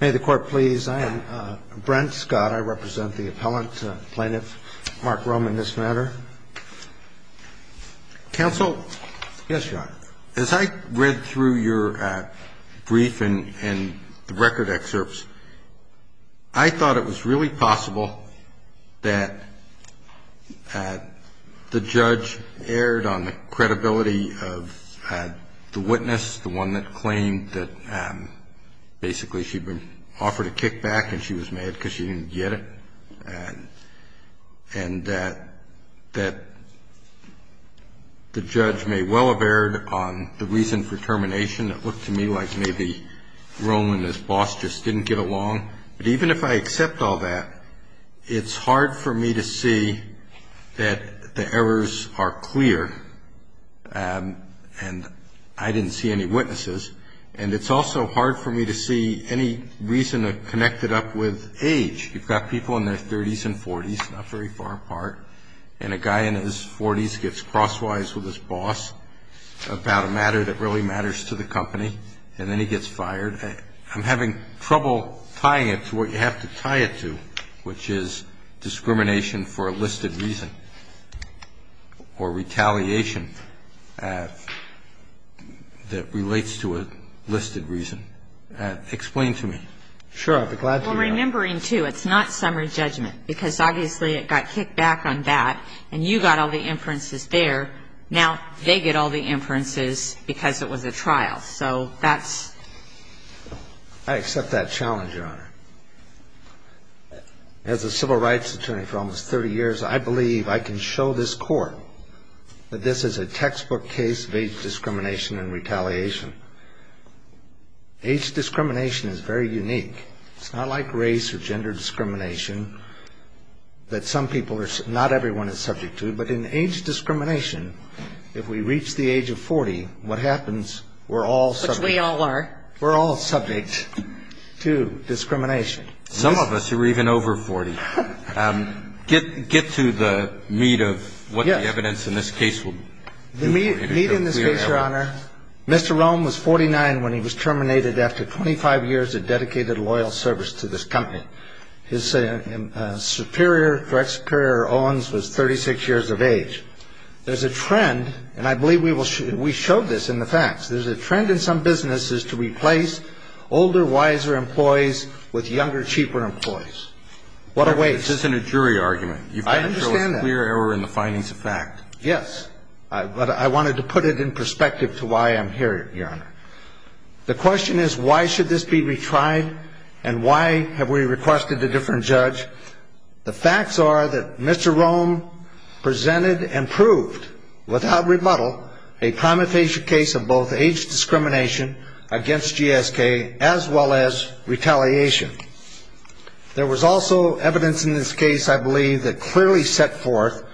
May the court please. I am Brent Scott. I represent the appellant, plaintiff Mark Rome in this matter. Counsel? Yes, Your Honor. As I read through your brief and the record excerpts, I thought it was really possible that the judge erred on the credibility of the witness, the one that claimed that basically she'd been offered a kickback and she was mad because she didn't get it, and that the judge may well have erred on the reason for termination. It looked to me like maybe Rome and his boss just didn't get along. But even if I accept all that, it's hard for me to see that the errors are clear and I didn't see any witnesses, and it's also hard for me to see any reason to connect it up with age. You've got people in their 30s and 40s, not very far apart, and a guy in his 40s gets crosswise with his boss about a matter that really matters to the company, and then he gets fired. I'm having trouble tying it to what you have to tie it to, which is discrimination for a listed reason or retaliation that relates to a listed reason. Explain to me. Sure. I'd be glad to, Your Honor. Well, remembering, too, it's not summary judgment because obviously it got kicked back on that, and you got all the inferences there. Now they get all the inferences because it was a trial. I accept that challenge, Your Honor. As a civil rights attorney for almost 30 years, I believe I can show this court that this is a textbook case of age discrimination and retaliation. Age discrimination is very unique. It's not like race or gender discrimination that some people are – not everyone is subject to, but in age discrimination, if we reach the age of 40, what happens? We're all subject. Which we all are. We're all subject to discrimination. Some of us are even over 40. Get to the meat of what the evidence in this case will be. The meat in this case, Your Honor, Mr. Rome was 49 when he was terminated after 25 years of dedicated loyal service to this company. His superior, direct superior, Owens, was 36 years of age. There's a trend, and I believe we will – we showed this in the facts. There's a trend in some businesses to replace older, wiser employees with younger, cheaper employees. What a waste. This isn't a jury argument. I understand that. You've got to show a clear error in the findings of fact. Yes. But I wanted to put it in perspective to why I'm here, Your Honor. The question is, why should this be retried, and why have we requested a different judge? The facts are that Mr. Rome presented and proved, without rebuttal, a prima facie case of both age discrimination against GSK as well as retaliation. There was also evidence in this case, I believe, that clearly set forth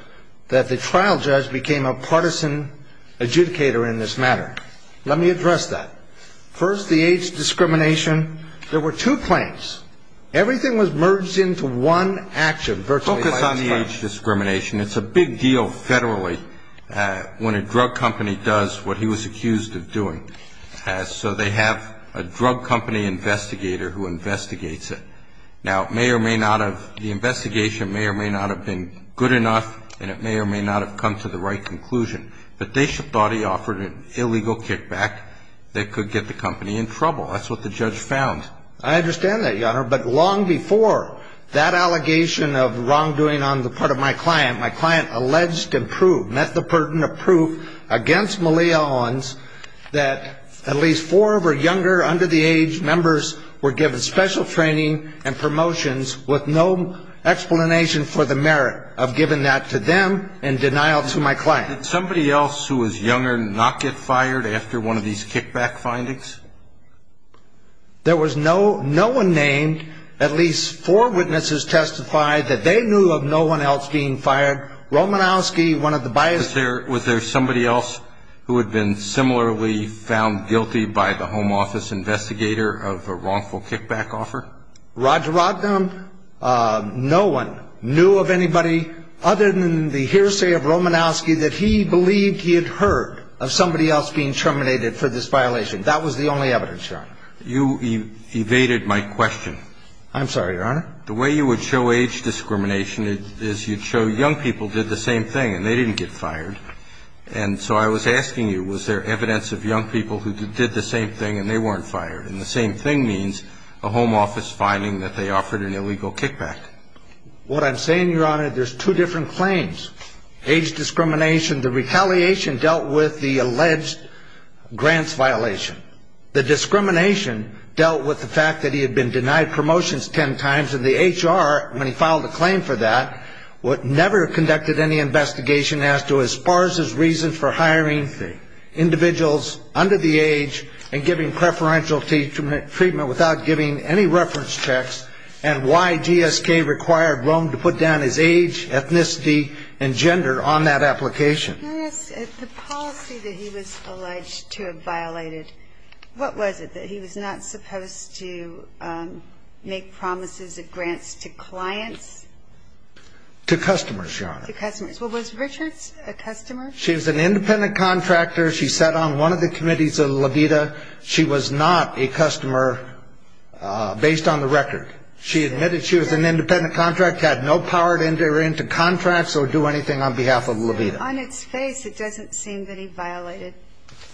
that the trial judge became a partisan adjudicator in this matter. Let me address that. First, the age discrimination. There were two claims. Everything was merged into one action. Focus on the age discrimination. It's a big deal federally when a drug company does what he was accused of doing. So they have a drug company investigator who investigates it. Now, it may or may not have – the investigation may or may not have been good enough, and it may or may not have come to the right conclusion. But they thought he offered an illegal kickback that could get the company in trouble. That's what the judge found. I understand that, Your Honor. But long before that allegation of wrongdoing on the part of my client, my client alleged and proved, met the burden of proof against Malia Owens, that at least four of her younger, under the age members were given special training and promotions with no explanation for the merit of giving that to them in denial to my client. Did somebody else who was younger not get fired after one of these kickback findings? There was no one named. At least four witnesses testified that they knew of no one else being fired. Romanowski, one of the – Was there somebody else who had been similarly found guilty by the home office investigator of a wrongful kickback offer? No one knew of anybody other than the hearsay of Romanowski that he believed he had heard of somebody else being terminated for this violation. That was the only evidence, Your Honor. You evaded my question. I'm sorry, Your Honor. The way you would show age discrimination is you'd show young people did the same thing, and they didn't get fired. And so I was asking you, was there evidence of young people who did the same thing and they weren't fired? And the same thing means a home office finding that they offered an illegal kickback. What I'm saying, Your Honor, there's two different claims. Age discrimination, the retaliation dealt with the alleged grants violation. The discrimination dealt with the fact that he had been denied promotions ten times, and the HR, when he filed a claim for that, never conducted any investigation as to as far as his reason for hiring individuals under the age and giving preferential treatment without giving any reference checks and why GSK required Rome to put down his age, ethnicity, and gender on that application. Yes, the policy that he was alleged to have violated, what was it? That he was not supposed to make promises of grants to clients? To customers, Your Honor. To customers. Well, was Richards a customer? She was an independent contractor. She sat on one of the committees of LAVITA. She was not a customer based on the record. She admitted she was an independent contractor, had no power to enter into contracts or do anything on behalf of LAVITA. On its face, it doesn't seem that he violated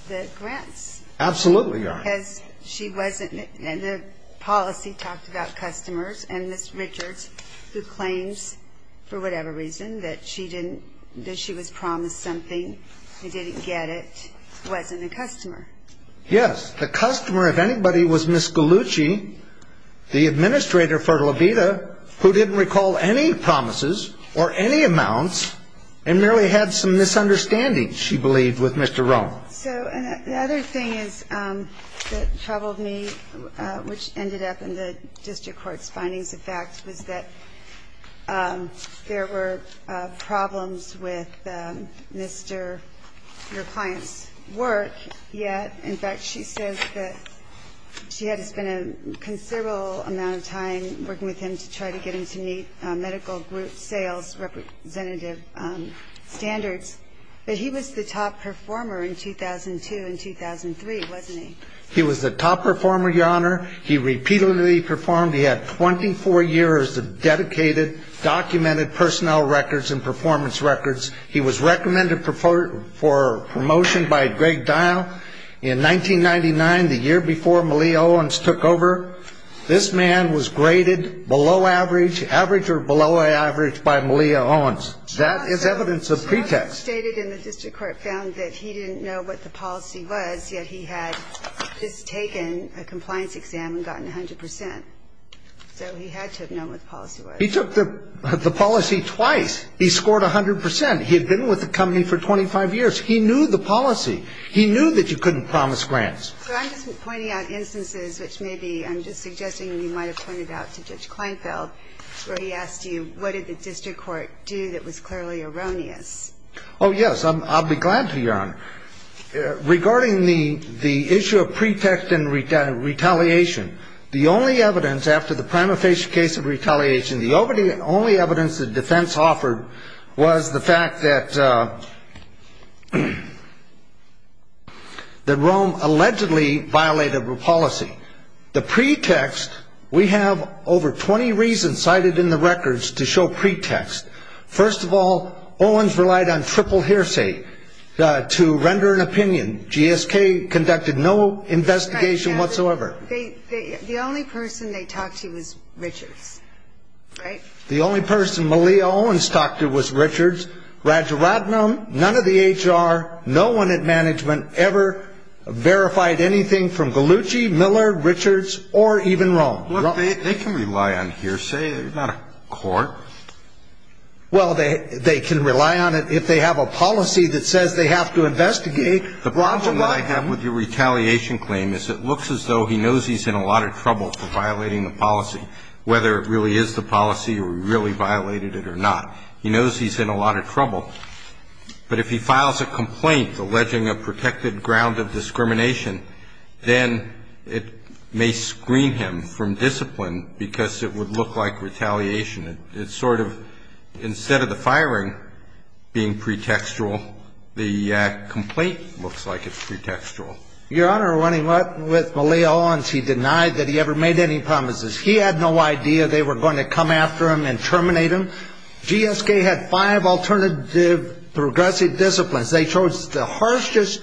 the grants. Absolutely, Your Honor. Because she wasn't, and the policy talked about customers, and this Richards, who claims for whatever reason that she didn't, that she was promised something, and didn't get it, wasn't a customer. Yes. The customer, if anybody, was Ms. Gallucci, the administrator for LAVITA, who didn't recall any promises or any amounts and merely had some misunderstandings, she believed, with Mr. Rome. So the other thing that troubled me, which ended up in the district court's findings, in fact, was that there were problems with your client's work. Yet, in fact, she says that she had to spend a considerable amount of time working with him to try to get him to meet medical group sales representative standards. But he was the top performer in 2002 and 2003, wasn't he? He was the top performer, Your Honor. He repeatedly performed. He had 24 years of dedicated, documented personnel records and performance records. He was recommended for promotion by Greg Dial in 1999, the year before Malia Owens took over. This man was graded below average, average or below average, by Malia Owens. That is evidence of pretext. The process stated in the district court found that he didn't know what the policy was, yet he had just taken a compliance exam and gotten 100 percent. So he had to have known what the policy was. He took the policy twice. He scored 100 percent. He had been with the company for 25 years. He knew the policy. He knew that you couldn't promise grants. So I'm just pointing out instances, which maybe I'm just suggesting you might have pointed out to Judge Kleinfeld, where he asked you what did the district court do that was clearly erroneous. Oh, yes. I'll be glad to, Your Honor. Regarding the issue of pretext and retaliation, the only evidence after the prima facie case of retaliation, the only evidence the defense offered was the fact that Rome allegedly violated the policy. The pretext, we have over 20 reasons cited in the records to show pretext. First of all, Owens relied on triple hearsay to render an opinion. GSK conducted no investigation whatsoever. The only person they talked to was Richards, right? The only person Malia Owens talked to was Richards. Rajaratnam, none of the HR, no one at management ever verified anything from Gallucci, Miller, Richards, or even Rome. They can rely on hearsay, not a court. Well, they can rely on it if they have a policy that says they have to investigate. The problem that I have with your retaliation claim is it looks as though he knows he's in a lot of trouble for violating the policy, whether it really is the policy or he really violated it or not. But if he files a complaint alleging a protected ground of discrimination, then it may screen him from discipline because it would look like retaliation. It's sort of instead of the firing being pretextual, the complaint looks like it's pretextual. Your Honor, when he went with Malia Owens, he denied that he ever made any promises. He had no idea they were going to come after him and terminate him. GSK had five alternative progressive disciplines. They chose the harshest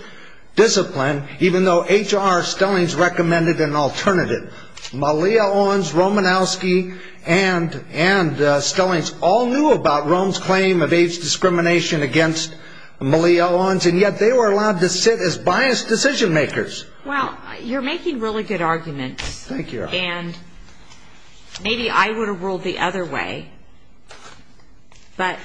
discipline, even though HR, Stellings, recommended an alternative. Malia Owens, Romanowski, and Stellings all knew about Rome's claim of age discrimination against Malia Owens, and yet they were allowed to sit as biased decision makers. Well, you're making really good arguments. Thank you, Your Honor. And maybe I would have ruled the other way, but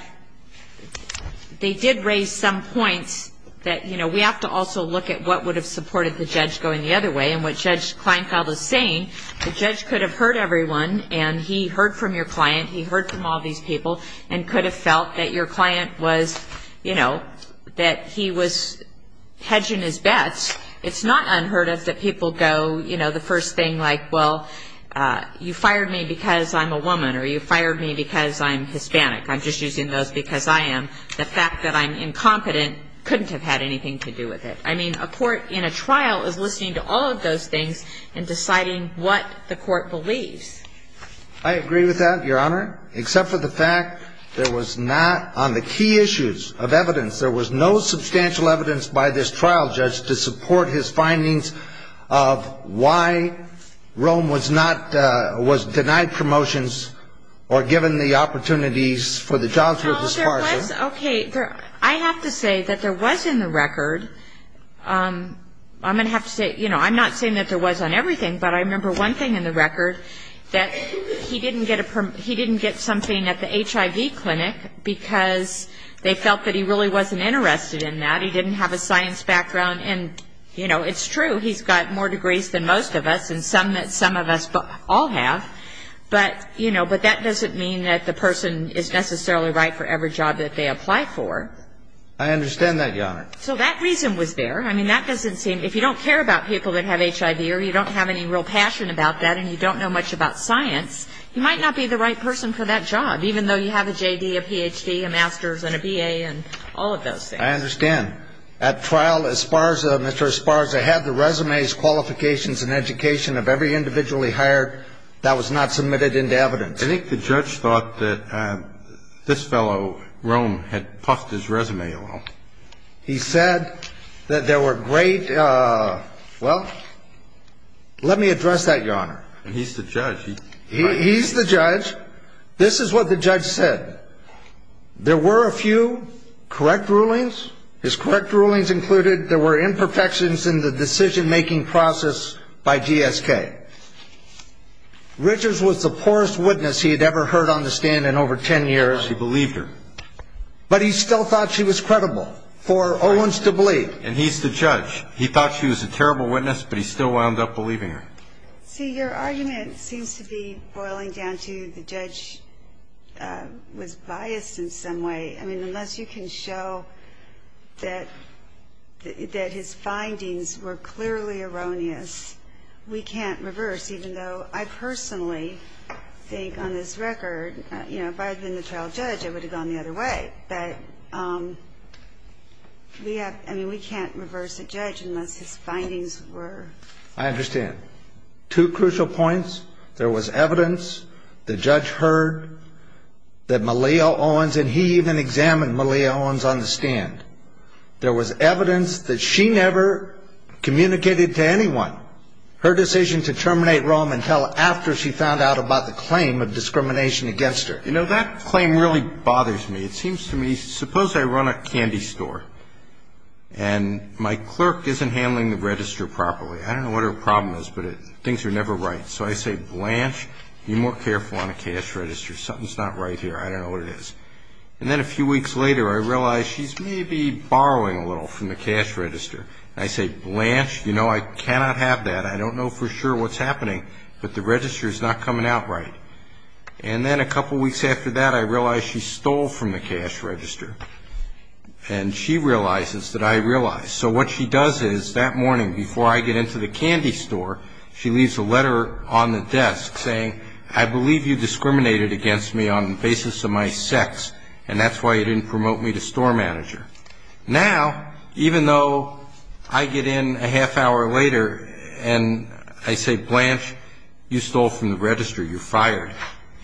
they did raise some points that, you know, we have to also look at what would have supported the judge going the other way. And what Judge Kleinfeld is saying, the judge could have heard everyone, and he heard from your client, he heard from all these people, and could have felt that your client was, you know, that he was hedging his bets. It's not unheard of that people go, you know, the first thing, like, well, you fired me because I'm a woman, or you fired me because I'm Hispanic. I'm just using those because I am. The fact that I'm incompetent couldn't have had anything to do with it. I mean, a court in a trial is listening to all of those things and deciding what the court believes. I agree with that, Your Honor, except for the fact there was not, on the key issues of evidence, there was no substantial evidence by this trial judge to support his findings of why Rome was not, was denied promotions or given the opportunities for the jobs with his partner. Well, there was, okay, I have to say that there was in the record, I'm going to have to say, you know, I'm not saying that there was on everything, but I remember one thing in the record that he didn't get something at the HIV clinic because they felt that he really wasn't interested in that. He didn't have a science background. And, you know, it's true, he's got more degrees than most of us and some that some of us all have. But, you know, but that doesn't mean that the person is necessarily right for every job that they apply for. I understand that, Your Honor. So that reason was there. I mean, that doesn't seem, if you don't care about people that have HIV or you don't have any real passion about that and you don't know much about science, you might not be the right person for that job, even though you have a J.D., a Ph.D., a Master's, and a B.A., and all of those things. I understand. At trial, as far as Mr. Esparza had, the resumes, qualifications, and education of every individual he hired, that was not submitted into evidence. I think the judge thought that this fellow, Rome, had puffed his resume along. He said that there were great, well, let me address that, Your Honor. He's the judge. He's the judge. This is what the judge said. There were a few correct rulings. His correct rulings included there were imperfections in the decision-making process by GSK. Richards was the poorest witness he had ever heard on the stand in over ten years. He believed her. But he still thought she was credible for Owens to believe. And he's the judge. He thought she was a terrible witness, but he still wound up believing her. See, your argument seems to be boiling down to the judge was biased in some way. I mean, unless you can show that his findings were clearly erroneous, we can't reverse, even though I personally think on this record, you know, if I had been the trial judge, I would have gone the other way. But we have to – I mean, we can't reverse a judge unless his findings were – I understand. Two crucial points. There was evidence. The judge heard that Malia Owens, and he even examined Malia Owens on the stand. There was evidence that she never communicated to anyone her decision to terminate Rome until after she found out about the claim of discrimination against her. You know, that claim really bothers me. It seems to me, suppose I run a candy store, and my clerk isn't handling the register properly. I don't know what her problem is, but things are never right. So I say, Blanche, be more careful on the cash register. Something's not right here. I don't know what it is. And then a few weeks later, I realize she's maybe borrowing a little from the cash register. I say, Blanche, you know, I cannot have that. I don't know for sure what's happening, but the register's not coming out right. And then a couple weeks after that, I realize she stole from the cash register. And she realizes that I realize. So what she does is, that morning before I get into the candy store, she leaves a letter on the desk saying, I believe you discriminated against me on the basis of my sex, and that's why you didn't promote me to store manager. Now, even though I get in a half hour later and I say, Blanche, you stole from the register. You're fired.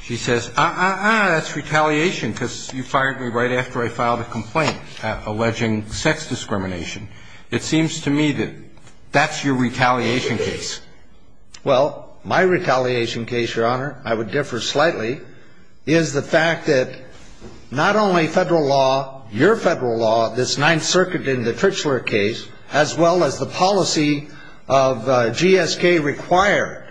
She says, uh-uh-uh, that's retaliation because you fired me right after I filed a complaint alleging sex discrimination. It seems to me that that's your retaliation case. Well, my retaliation case, Your Honor, I would differ slightly, is the fact that not only federal law, your federal law, this Ninth Circuit and the Trichler case, as well as the policy of GSK required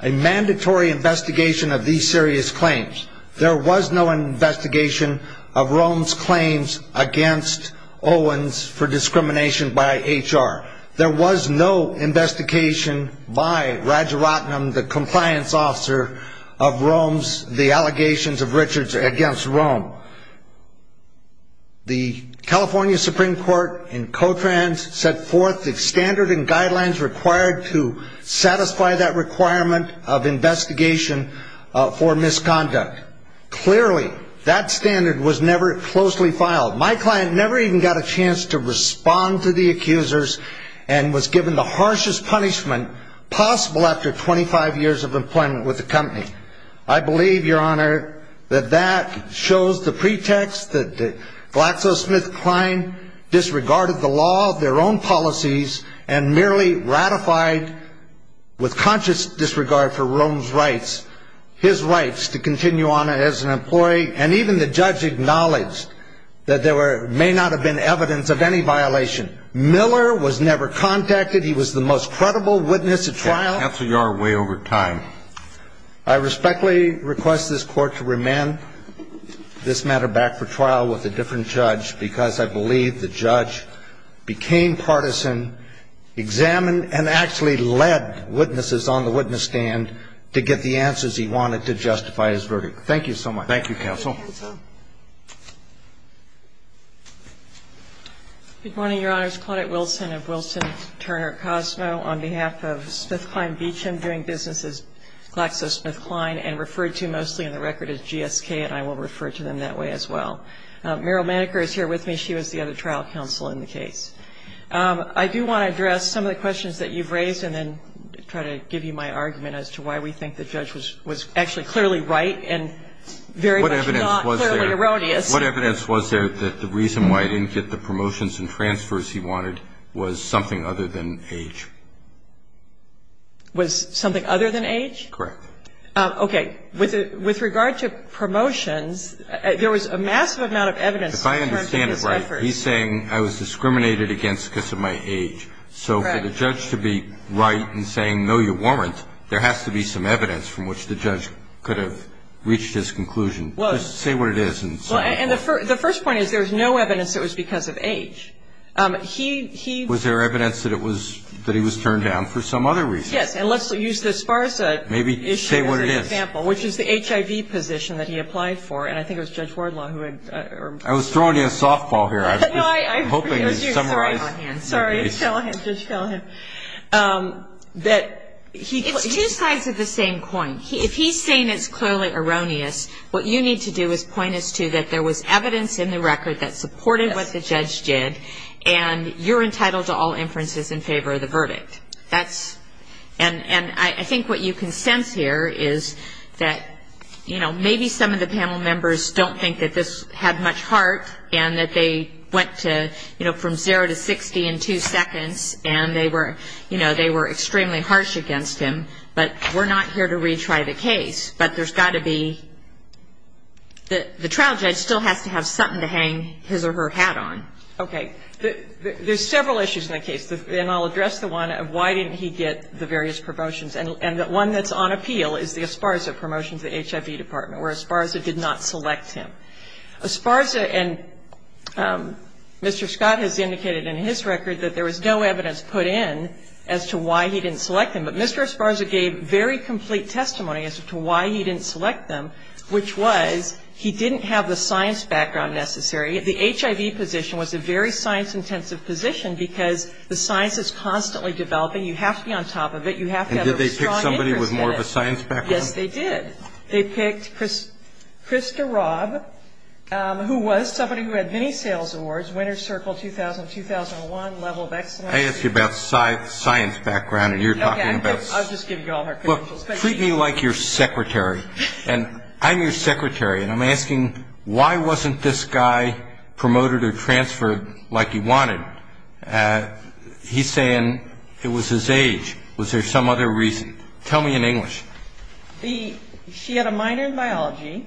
a mandatory investigation of these serious claims. There was no investigation of Rome's claims against Owens for discrimination by HR. There was no investigation by Raja Ratnam, the compliance officer, of Rome's allegations of Richards against Rome. The California Supreme Court in Cotrans set forth the standard and guidelines required to satisfy that requirement of investigation for misconduct. Clearly, that standard was never closely filed. My client never even got a chance to respond to the accusers and was given the harshest punishment possible after 25 years of employment with the company. I believe, Your Honor, that that shows the pretext that the GlaxoSmithKline disregarded the law of their own policies and merely ratified, with conscious disregard for Rome's rights, his rights to continue on as an employee. And even the judge acknowledged that there may not have been evidence of any violation. Miller was never contacted. He was the most credible witness at trial. Counsel, you are way over time. I respectfully request this Court to remand this matter back for trial with a different judge because I believe the judge became partisan, examined, and actually led witnesses on the witness stand to get the answers he wanted to justify his verdict. Thank you so much. Thank you, counsel. Good morning, Your Honors. Claudette Wilson of Wilson Turner Cosmo on behalf of SmithKline Beecham, doing business as GlaxoSmithKline and referred to mostly in the record as GSK, and I will refer to them that way as well. Meryl Maneker is here with me. She was the other trial counsel in the case. I do want to address some of the questions that you've raised and then try to give you my argument as to why we think the judge was actually clearly right and very much not clearly erroneous. What evidence was there that the reason why he didn't get the promotions and transfers he wanted was something other than age? Was something other than age? Correct. Okay. With regard to promotions, there was a massive amount of evidence. If I understand it right, he's saying I was discriminated against because of my age. So for the judge to be right in saying, no, you weren't, there has to be some evidence from which the judge could have reached his conclusion. Say what it is. The first point is there was no evidence that it was because of age. Was there evidence that he was turned down for some other reason? Yes. And let's use the SPARSA issue as an example. Maybe say what it is. Which is the HIV position that he applied for, and I think it was Judge Wardlaw who had... I was throwing you a softball here. I was just hoping to summarize. Sorry. Judge Callahan. Judge Callahan. That he... It's two sides of the same coin. If he's saying it's clearly erroneous, what you need to do is point us to that there was evidence in the record that supported what the judge did, and you're entitled to all inferences in favor of the verdict. That's... And I think what you can sense here is that, you know, maybe some of the panel members don't think that this had much heart, and that they went to, you know, from 0 to 60 in 2 seconds, and they were, you know, they were extremely harsh against him. But we're not here to retry the case. But there's got to be... The trial judge still has to have something to hang his or her hat on. Okay. There's several issues in the case. And I'll address the one of why didn't he get the various promotions. And the one that's on appeal is the Esparza promotion to the HIV department, where Esparza did not select him. Esparza and Mr. Scott has indicated in his record that there was no evidence put in as to why he didn't select him. But Mr. Esparza gave very complete testimony as to why he didn't select him, which was he didn't have the science background necessary. The HIV position was a very science-intensive position because the science is constantly developing. You have to be on top of it. You have to have a strong interest in it. And did they pick somebody with more of a science background? Yes, they did. They picked Krista Robb, who was somebody who had many sales awards, winner's circle 2000, 2001, level of excellence. I asked you about science background, and you're talking about... Okay. I'll just give you all her credentials. Well, treat me like your secretary. And I'm your secretary. And I'm asking, why wasn't this guy promoted or transferred like he wanted? He's saying it was his age. Was there some other reason? Tell me in English. She had a minor in biology.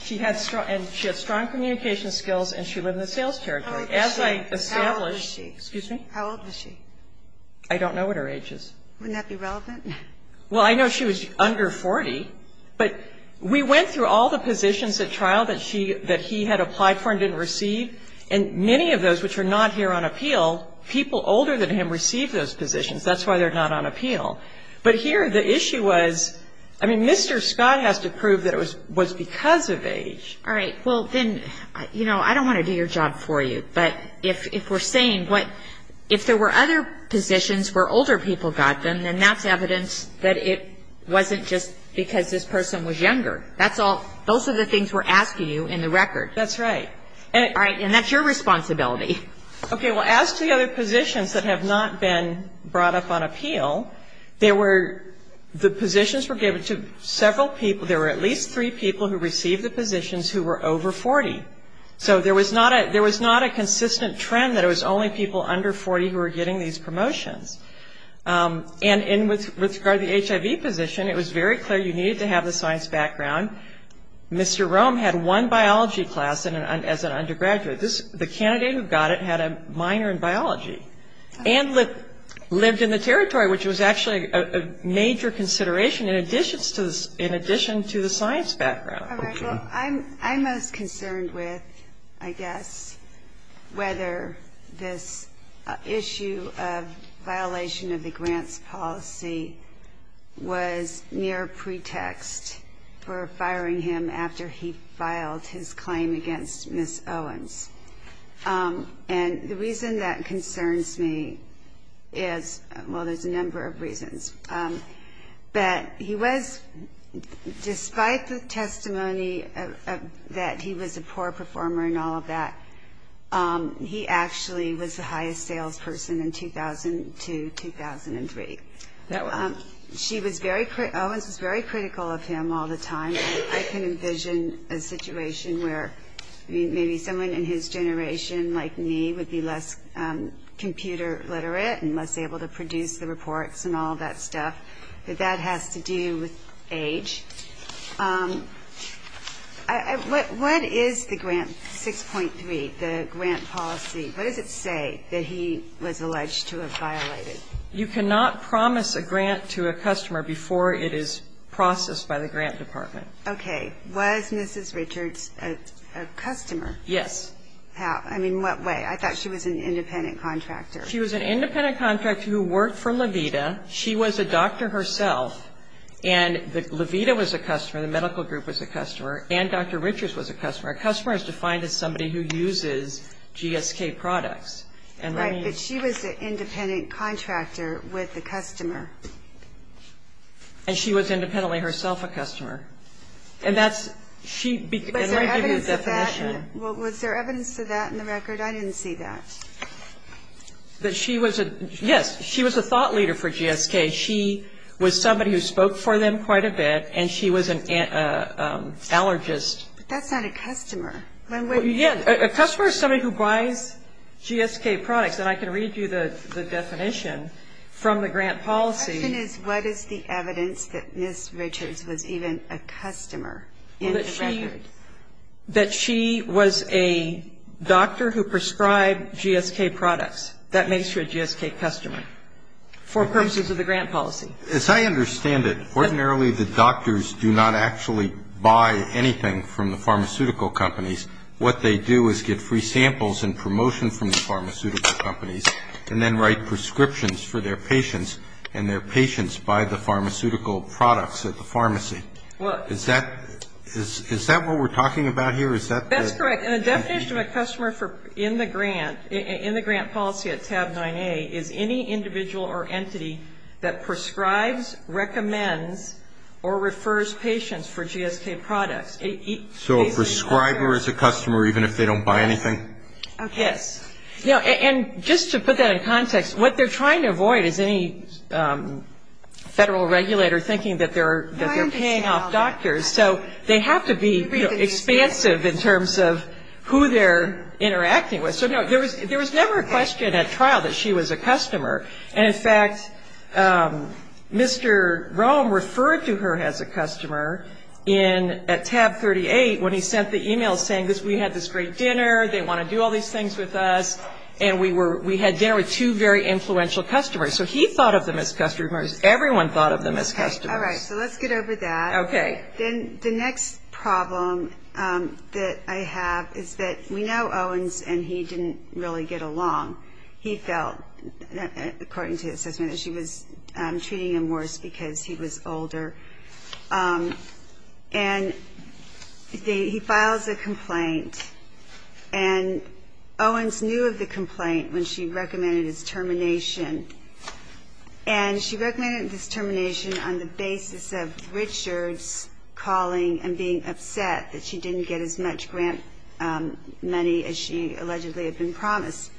She had strong communication skills, and she lived in the sales territory. As I established... How old was she? Excuse me? How old was she? I don't know what her age is. Wouldn't that be relevant? Well, I know she was under 40. But we went through all the positions at trial that he had applied for and didn't receive. And many of those which are not here on appeal, people older than him received those positions. That's why they're not on appeal. But here the issue was, I mean, Mr. Scott has to prove that it was because of age. All right. Well, then, you know, I don't want to do your job for you. But if we're saying what... If there were other positions where older people got them, then that's evidence that it wasn't just because this person was younger. That's all... Those are the things we're asking you in the record. That's right. All right. And that's your responsibility. Okay. Well, as to the other positions that have not been brought up on appeal, the positions were given to several people... There were at least three people who received the positions who were over 40. So there was not a consistent trend that it was only people under 40 who were getting these promotions. And with regard to the HIV position, it was very clear you needed to have the science background. Mr. Rome had one biology class as an undergraduate. The candidate who got it had a minor in biology and lived in the territory, which was actually a major consideration in addition to the science background. All right. Well, I'm most concerned with, I guess, whether this issue of violation of the grants policy was mere pretext for firing him after he filed his claim against Ms. Owens. And the reason that concerns me is, well, there's a number of reasons. But he was, despite the testimony that he was a poor performer and all of that, he actually was the highest salesperson in 2002-2003. Owens was very critical of him all the time. I can envision a situation where maybe someone in his generation, like me, would be less computer literate and less able to produce the reports and all that stuff. But that has to do with age. What is the grant 6.3, the grant policy? What does it say that he was alleged to have violated? You cannot promise a grant to a customer before it is processed by the grant department. Okay. Was Mrs. Richards a customer? Yes. And, I mean, in what way? I thought she was an independent contractor. She was an independent contractor who worked for Levita. She was a doctor herself, and Levita was a customer, the medical group was a customer, and Dr. Richards was a customer. A customer is defined as somebody who uses GSK products. Right, but she was an independent contractor with the customer. And she was independently herself a customer. And that's she began to give you a definition. Was there evidence of that? Was there evidence of that in the record? I didn't see that. That she was a, yes, she was a thought leader for GSK. She was somebody who spoke for them quite a bit, and she was an allergist. But that's not a customer. Yeah, a customer is somebody who buys GSK products, and I can read you the definition from the grant policy. The question is what is the evidence that Mrs. Richards was even a customer in the record? That she was a doctor who prescribed GSK products. That makes her a GSK customer for purposes of the grant policy. As I understand it, ordinarily the doctors do not actually buy anything from the pharmaceutical companies. What they do is get free samples and promotion from the pharmaceutical companies and then write prescriptions for their patients, and their patients buy the pharmaceutical products at the pharmacy. Is that what we're talking about here? That's correct. And the definition of a customer in the grant policy at tab 9A is any individual or entity that prescribes, recommends, or refers patients for GSK products. So a prescriber is a customer even if they don't buy anything? Yes. And just to put that in context, what they're trying to avoid is any federal regulator thinking that they're paying off doctors. So they have to be expansive in terms of who they're interacting with. So, no, there was never a question at trial that she was a customer. And, in fact, Mr. Rome referred to her as a customer at tab 38 when he sent the e-mail saying, we had this great dinner, they want to do all these things with us, and we had dinner with two very influential customers. So he thought of them as customers. Everyone thought of them as customers. All right. So let's get over that. Okay. Then the next problem that I have is that we know Owens, and he didn't really get along. He felt, according to his assessment, that she was treating him worse because he was older. And he files a complaint. And Owens knew of the complaint when she recommended his termination. And she recommended his termination on the basis of Richards calling and being upset that she didn't get as much grant money as she allegedly had been promised.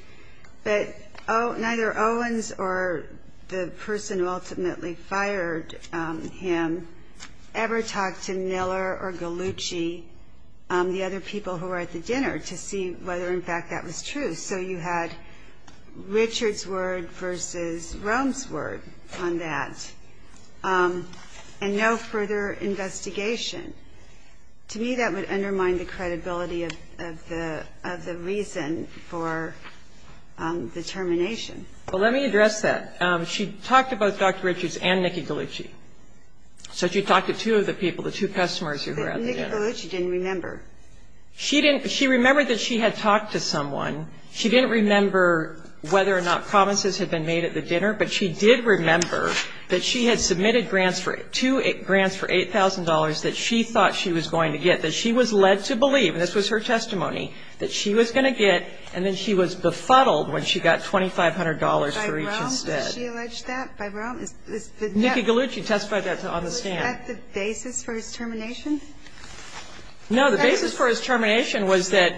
But neither Owens or the person who ultimately fired him ever talked to Miller or Gallucci, the other people who were at the dinner, to see whether, in fact, that was true. So you had Richards' word versus Rome's word on that, and no further investigation. To me, that would undermine the credibility of the reason for the termination. Well, let me address that. She talked to both Dr. Richards and Nikki Gallucci. So she talked to two of the people, the two customers who were at the dinner. Nikki Gallucci didn't remember. She didn't. She remembered that she had talked to someone. She didn't remember whether or not promises had been made at the dinner, but she did remember that she had submitted grants for $8,000 that she thought she was going to get, that she was led to believe, and this was her testimony, that she was going to get, and then she was befuddled when she got $2,500 for each instead. By Rome, did she allege that? By Rome? Nikki Gallucci testified that on the stand. Was that the basis for his termination? No. The basis for his termination was that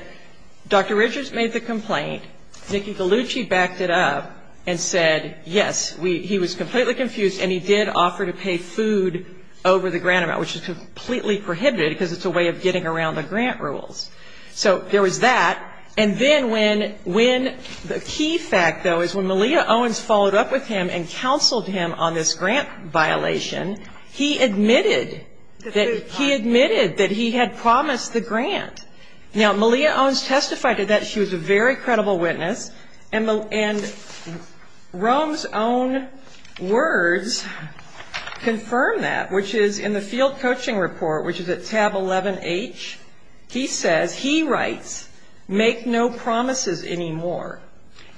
Dr. Richards made the complaint. Nikki Gallucci backed it up and said, yes, he was completely confused, and he did offer to pay food over the grant amount, which is completely prohibited because it's a way of getting around the grant rules. So there was that, and then when the key fact, though, is when Malia Owens followed up with him and counseled him on this grant violation, he admitted that he had promised the grant. Now, Malia Owens testified to that. She was a very credible witness, and Rome's own words confirm that, which is in the field coaching report, which is at tab 11H. He says, he writes, make no promises anymore.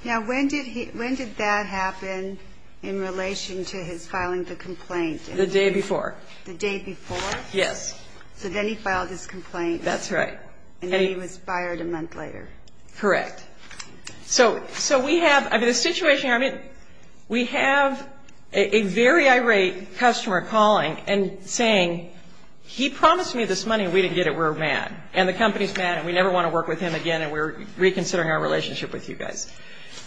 Now, when did that happen in relation to his filing the complaint? The day before. The day before? Yes. So then he filed his complaint. That's right. And then he was fired a month later. Correct. So we have the situation here. I mean, we have a very irate customer calling and saying, he promised me this money and we didn't get it, we're mad, and the company's mad and we never want to work with him again, and we're reconsidering our relationship with you guys.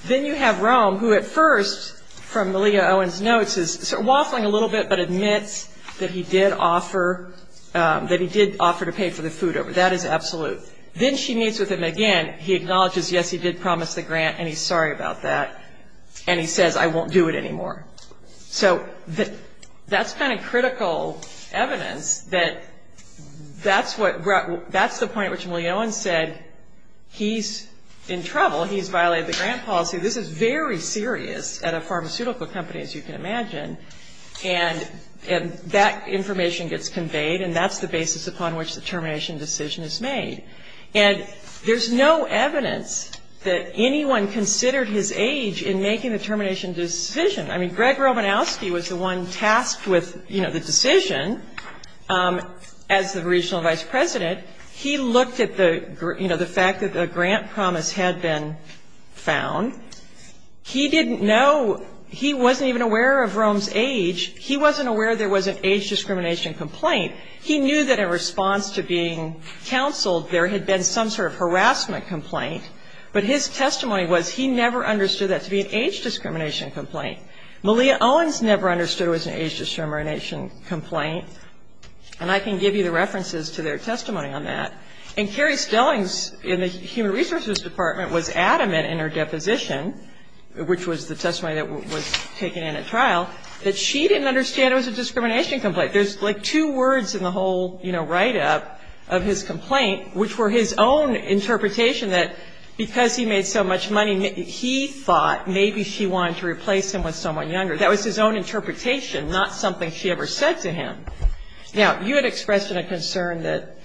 Then you have Rome, who at first, from Malia Owens' notes, is waffling a little bit but admits that he did offer to pay for the food. That is absolute. Then she meets with him again. He acknowledges, yes, he did promise the grant, and he's sorry about that, and he says, I won't do it anymore. So that's kind of critical evidence that that's the point at which Malia Owens said, he's in trouble, he's violated the grant policy. This is very serious at a pharmaceutical company, as you can imagine. And that information gets conveyed, and that's the basis upon which the termination decision is made. And there's no evidence that anyone considered his age in making the termination decision. I mean, Greg Romanowski was the one tasked with the decision as the regional vice president. He looked at the fact that the grant promise had been found. He didn't know, he wasn't even aware of Rome's age. He wasn't aware there was an age discrimination complaint. He knew that in response to being counseled, there had been some sort of harassment complaint, but his testimony was he never understood that to be an age discrimination complaint. Malia Owens never understood it was an age discrimination complaint, and I can give you the references to their testimony on that. And Carrie Stellings in the Human Resources Department was adamant in her deposition, which was the testimony that was taken in at trial, that she didn't understand it was a discrimination complaint. There's like two words in the whole, you know, write-up of his complaint, which were his own interpretation that because he made so much money, he thought maybe she wanted to replace him with someone younger. That was his own interpretation, not something she ever said to him. Now, you had expressed a concern that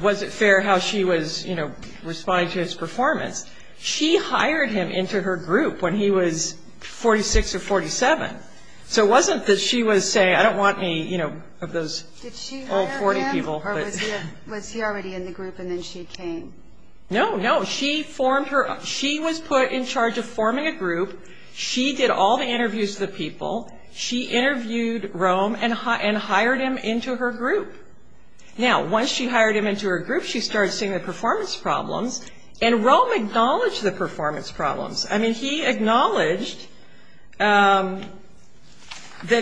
was it fair how she was, you know, responding to his performance. She hired him into her group when he was 46 or 47. So it wasn't that she was saying, I don't want any, you know, of those old 40 people. Did she hire him, or was he already in the group and then she came? No, no. She formed her, she was put in charge of forming a group. She did all the interviews with the people. She interviewed Rome and hired him into her group. Now, once she hired him into her group, she started seeing the performance problems, and Rome acknowledged the performance problems. I mean, he acknowledged that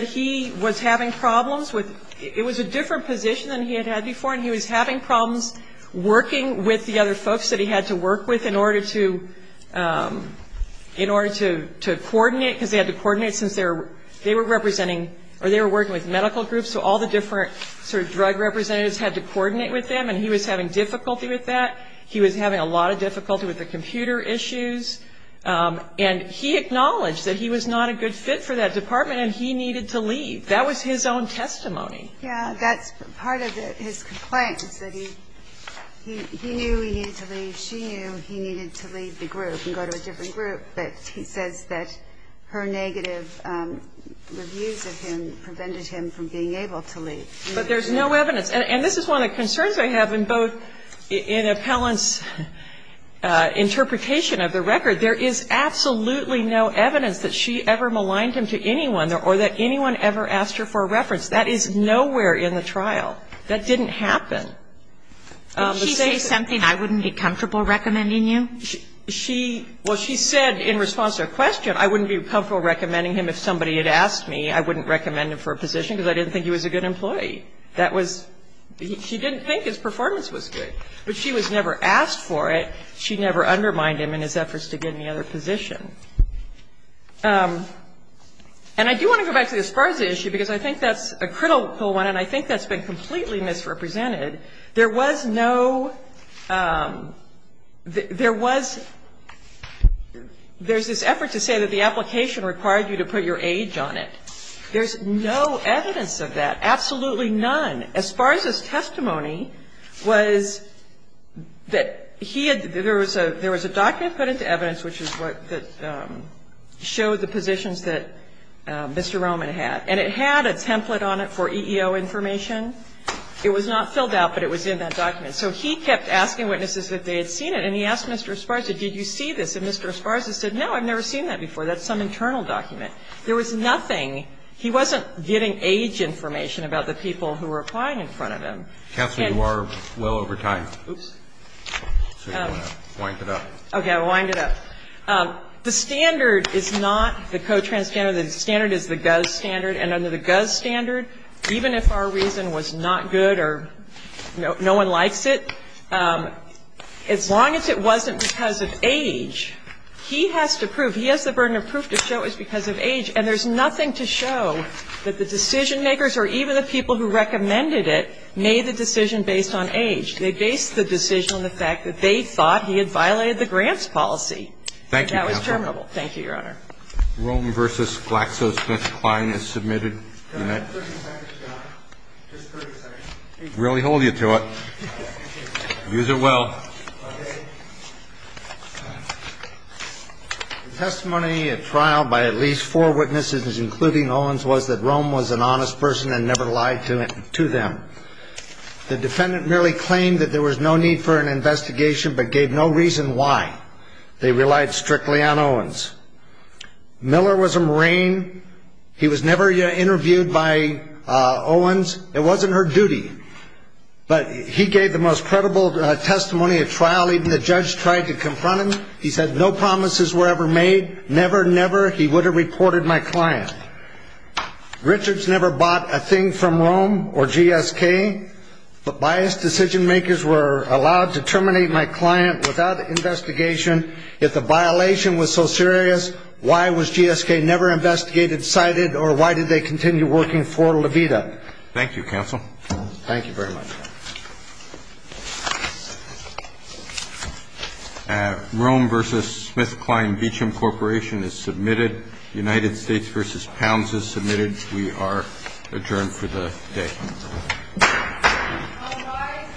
he was having problems with, it was a different position than he had had before, and he was having problems working with the other folks that he had to work with in order to coordinate, because they had to coordinate since they were representing, or they were working with medical groups, so all the different sort of drug representatives had to coordinate with them, and he was having difficulty with that. He was having a lot of difficulty with the computer issues, and he acknowledged that he was not a good fit for that department, and he needed to leave. That was his own testimony. Yeah, that's part of his complaint, is that he knew he needed to leave. She knew he needed to leave the group and go to a different group, but he says that her negative reviews of him prevented him from being able to leave. But there's no evidence, and this is one of the concerns I have in both in Appellant's interpretation of the record. There is absolutely no evidence that she ever maligned him to anyone or that anyone ever asked her for a reference. That is nowhere in the trial. That didn't happen. But she said something, I wouldn't be comfortable recommending you? She, well, she said in response to her question, I wouldn't be comfortable recommending him if somebody had asked me. I wouldn't recommend him for a position because I didn't think he was a good employee. That was – she didn't think his performance was good. But she was never asked for it. She never undermined him in his efforts to get any other position. And I do want to go back to the Esparza issue because I think that's a critical one, and I think that's been completely misrepresented. There was no – there was – there's this effort to say that the application required you to put your age on it. There's no evidence of that. Absolutely none. Esparza's testimony was that he had – there was a document put into evidence which is what – that showed the positions that Mr. Roman had. And it had a template on it for EEO information. It was not filled out, but it was in that document. So he kept asking witnesses if they had seen it, and he asked Mr. Esparza, did you see this? And Mr. Esparza said, no, I've never seen that before. That's some internal document. There was nothing. He wasn't getting age information about the people who were applying in front of him. Counsel, you are well over time. Oops. So you want to wind it up. Okay. I'll wind it up. The standard is not the Cotrans standard. The standard is the GUS standard. And under the GUS standard, even if our reason was not good or no one likes it, as long as it wasn't because of age, he has to prove, he has the burden of proof to show it's because of age. And there's nothing to show that the decision-makers or even the people who recommended it made the decision based on age. They based the decision on the fact that they thought he had violated the grants policy. Thank you, counsel. That was terminable. Thank you, Your Honor. Rome v. GlaxoSmithKline is submitted. Do you mind? Just 30 seconds. Really hold you to it. Use it well. Okay. The testimony at trial by at least four witnesses, including Owens, was that Rome was an honest person and never lied to them. The defendant merely claimed that there was no need for an investigation but gave no reason why. They relied strictly on Owens. Miller was a Marine. He was never interviewed by Owens. It wasn't her duty. But he gave the most credible testimony at trial. Even the judge tried to confront him. He said no promises were ever made, never, never. He would have reported my client. Richards never bought a thing from Rome or GSK, but biased decision-makers were allowed to terminate my client without investigation. If the violation was so serious, why was GSK never investigated, cited, or why did they continue working for Levita? Thank you, counsel. Thank you very much. Rome v. SmithKline Beacham Corporation is submitted. United States v. Pounds is submitted. We are adjourned for the day. All rise for the session's conclusion.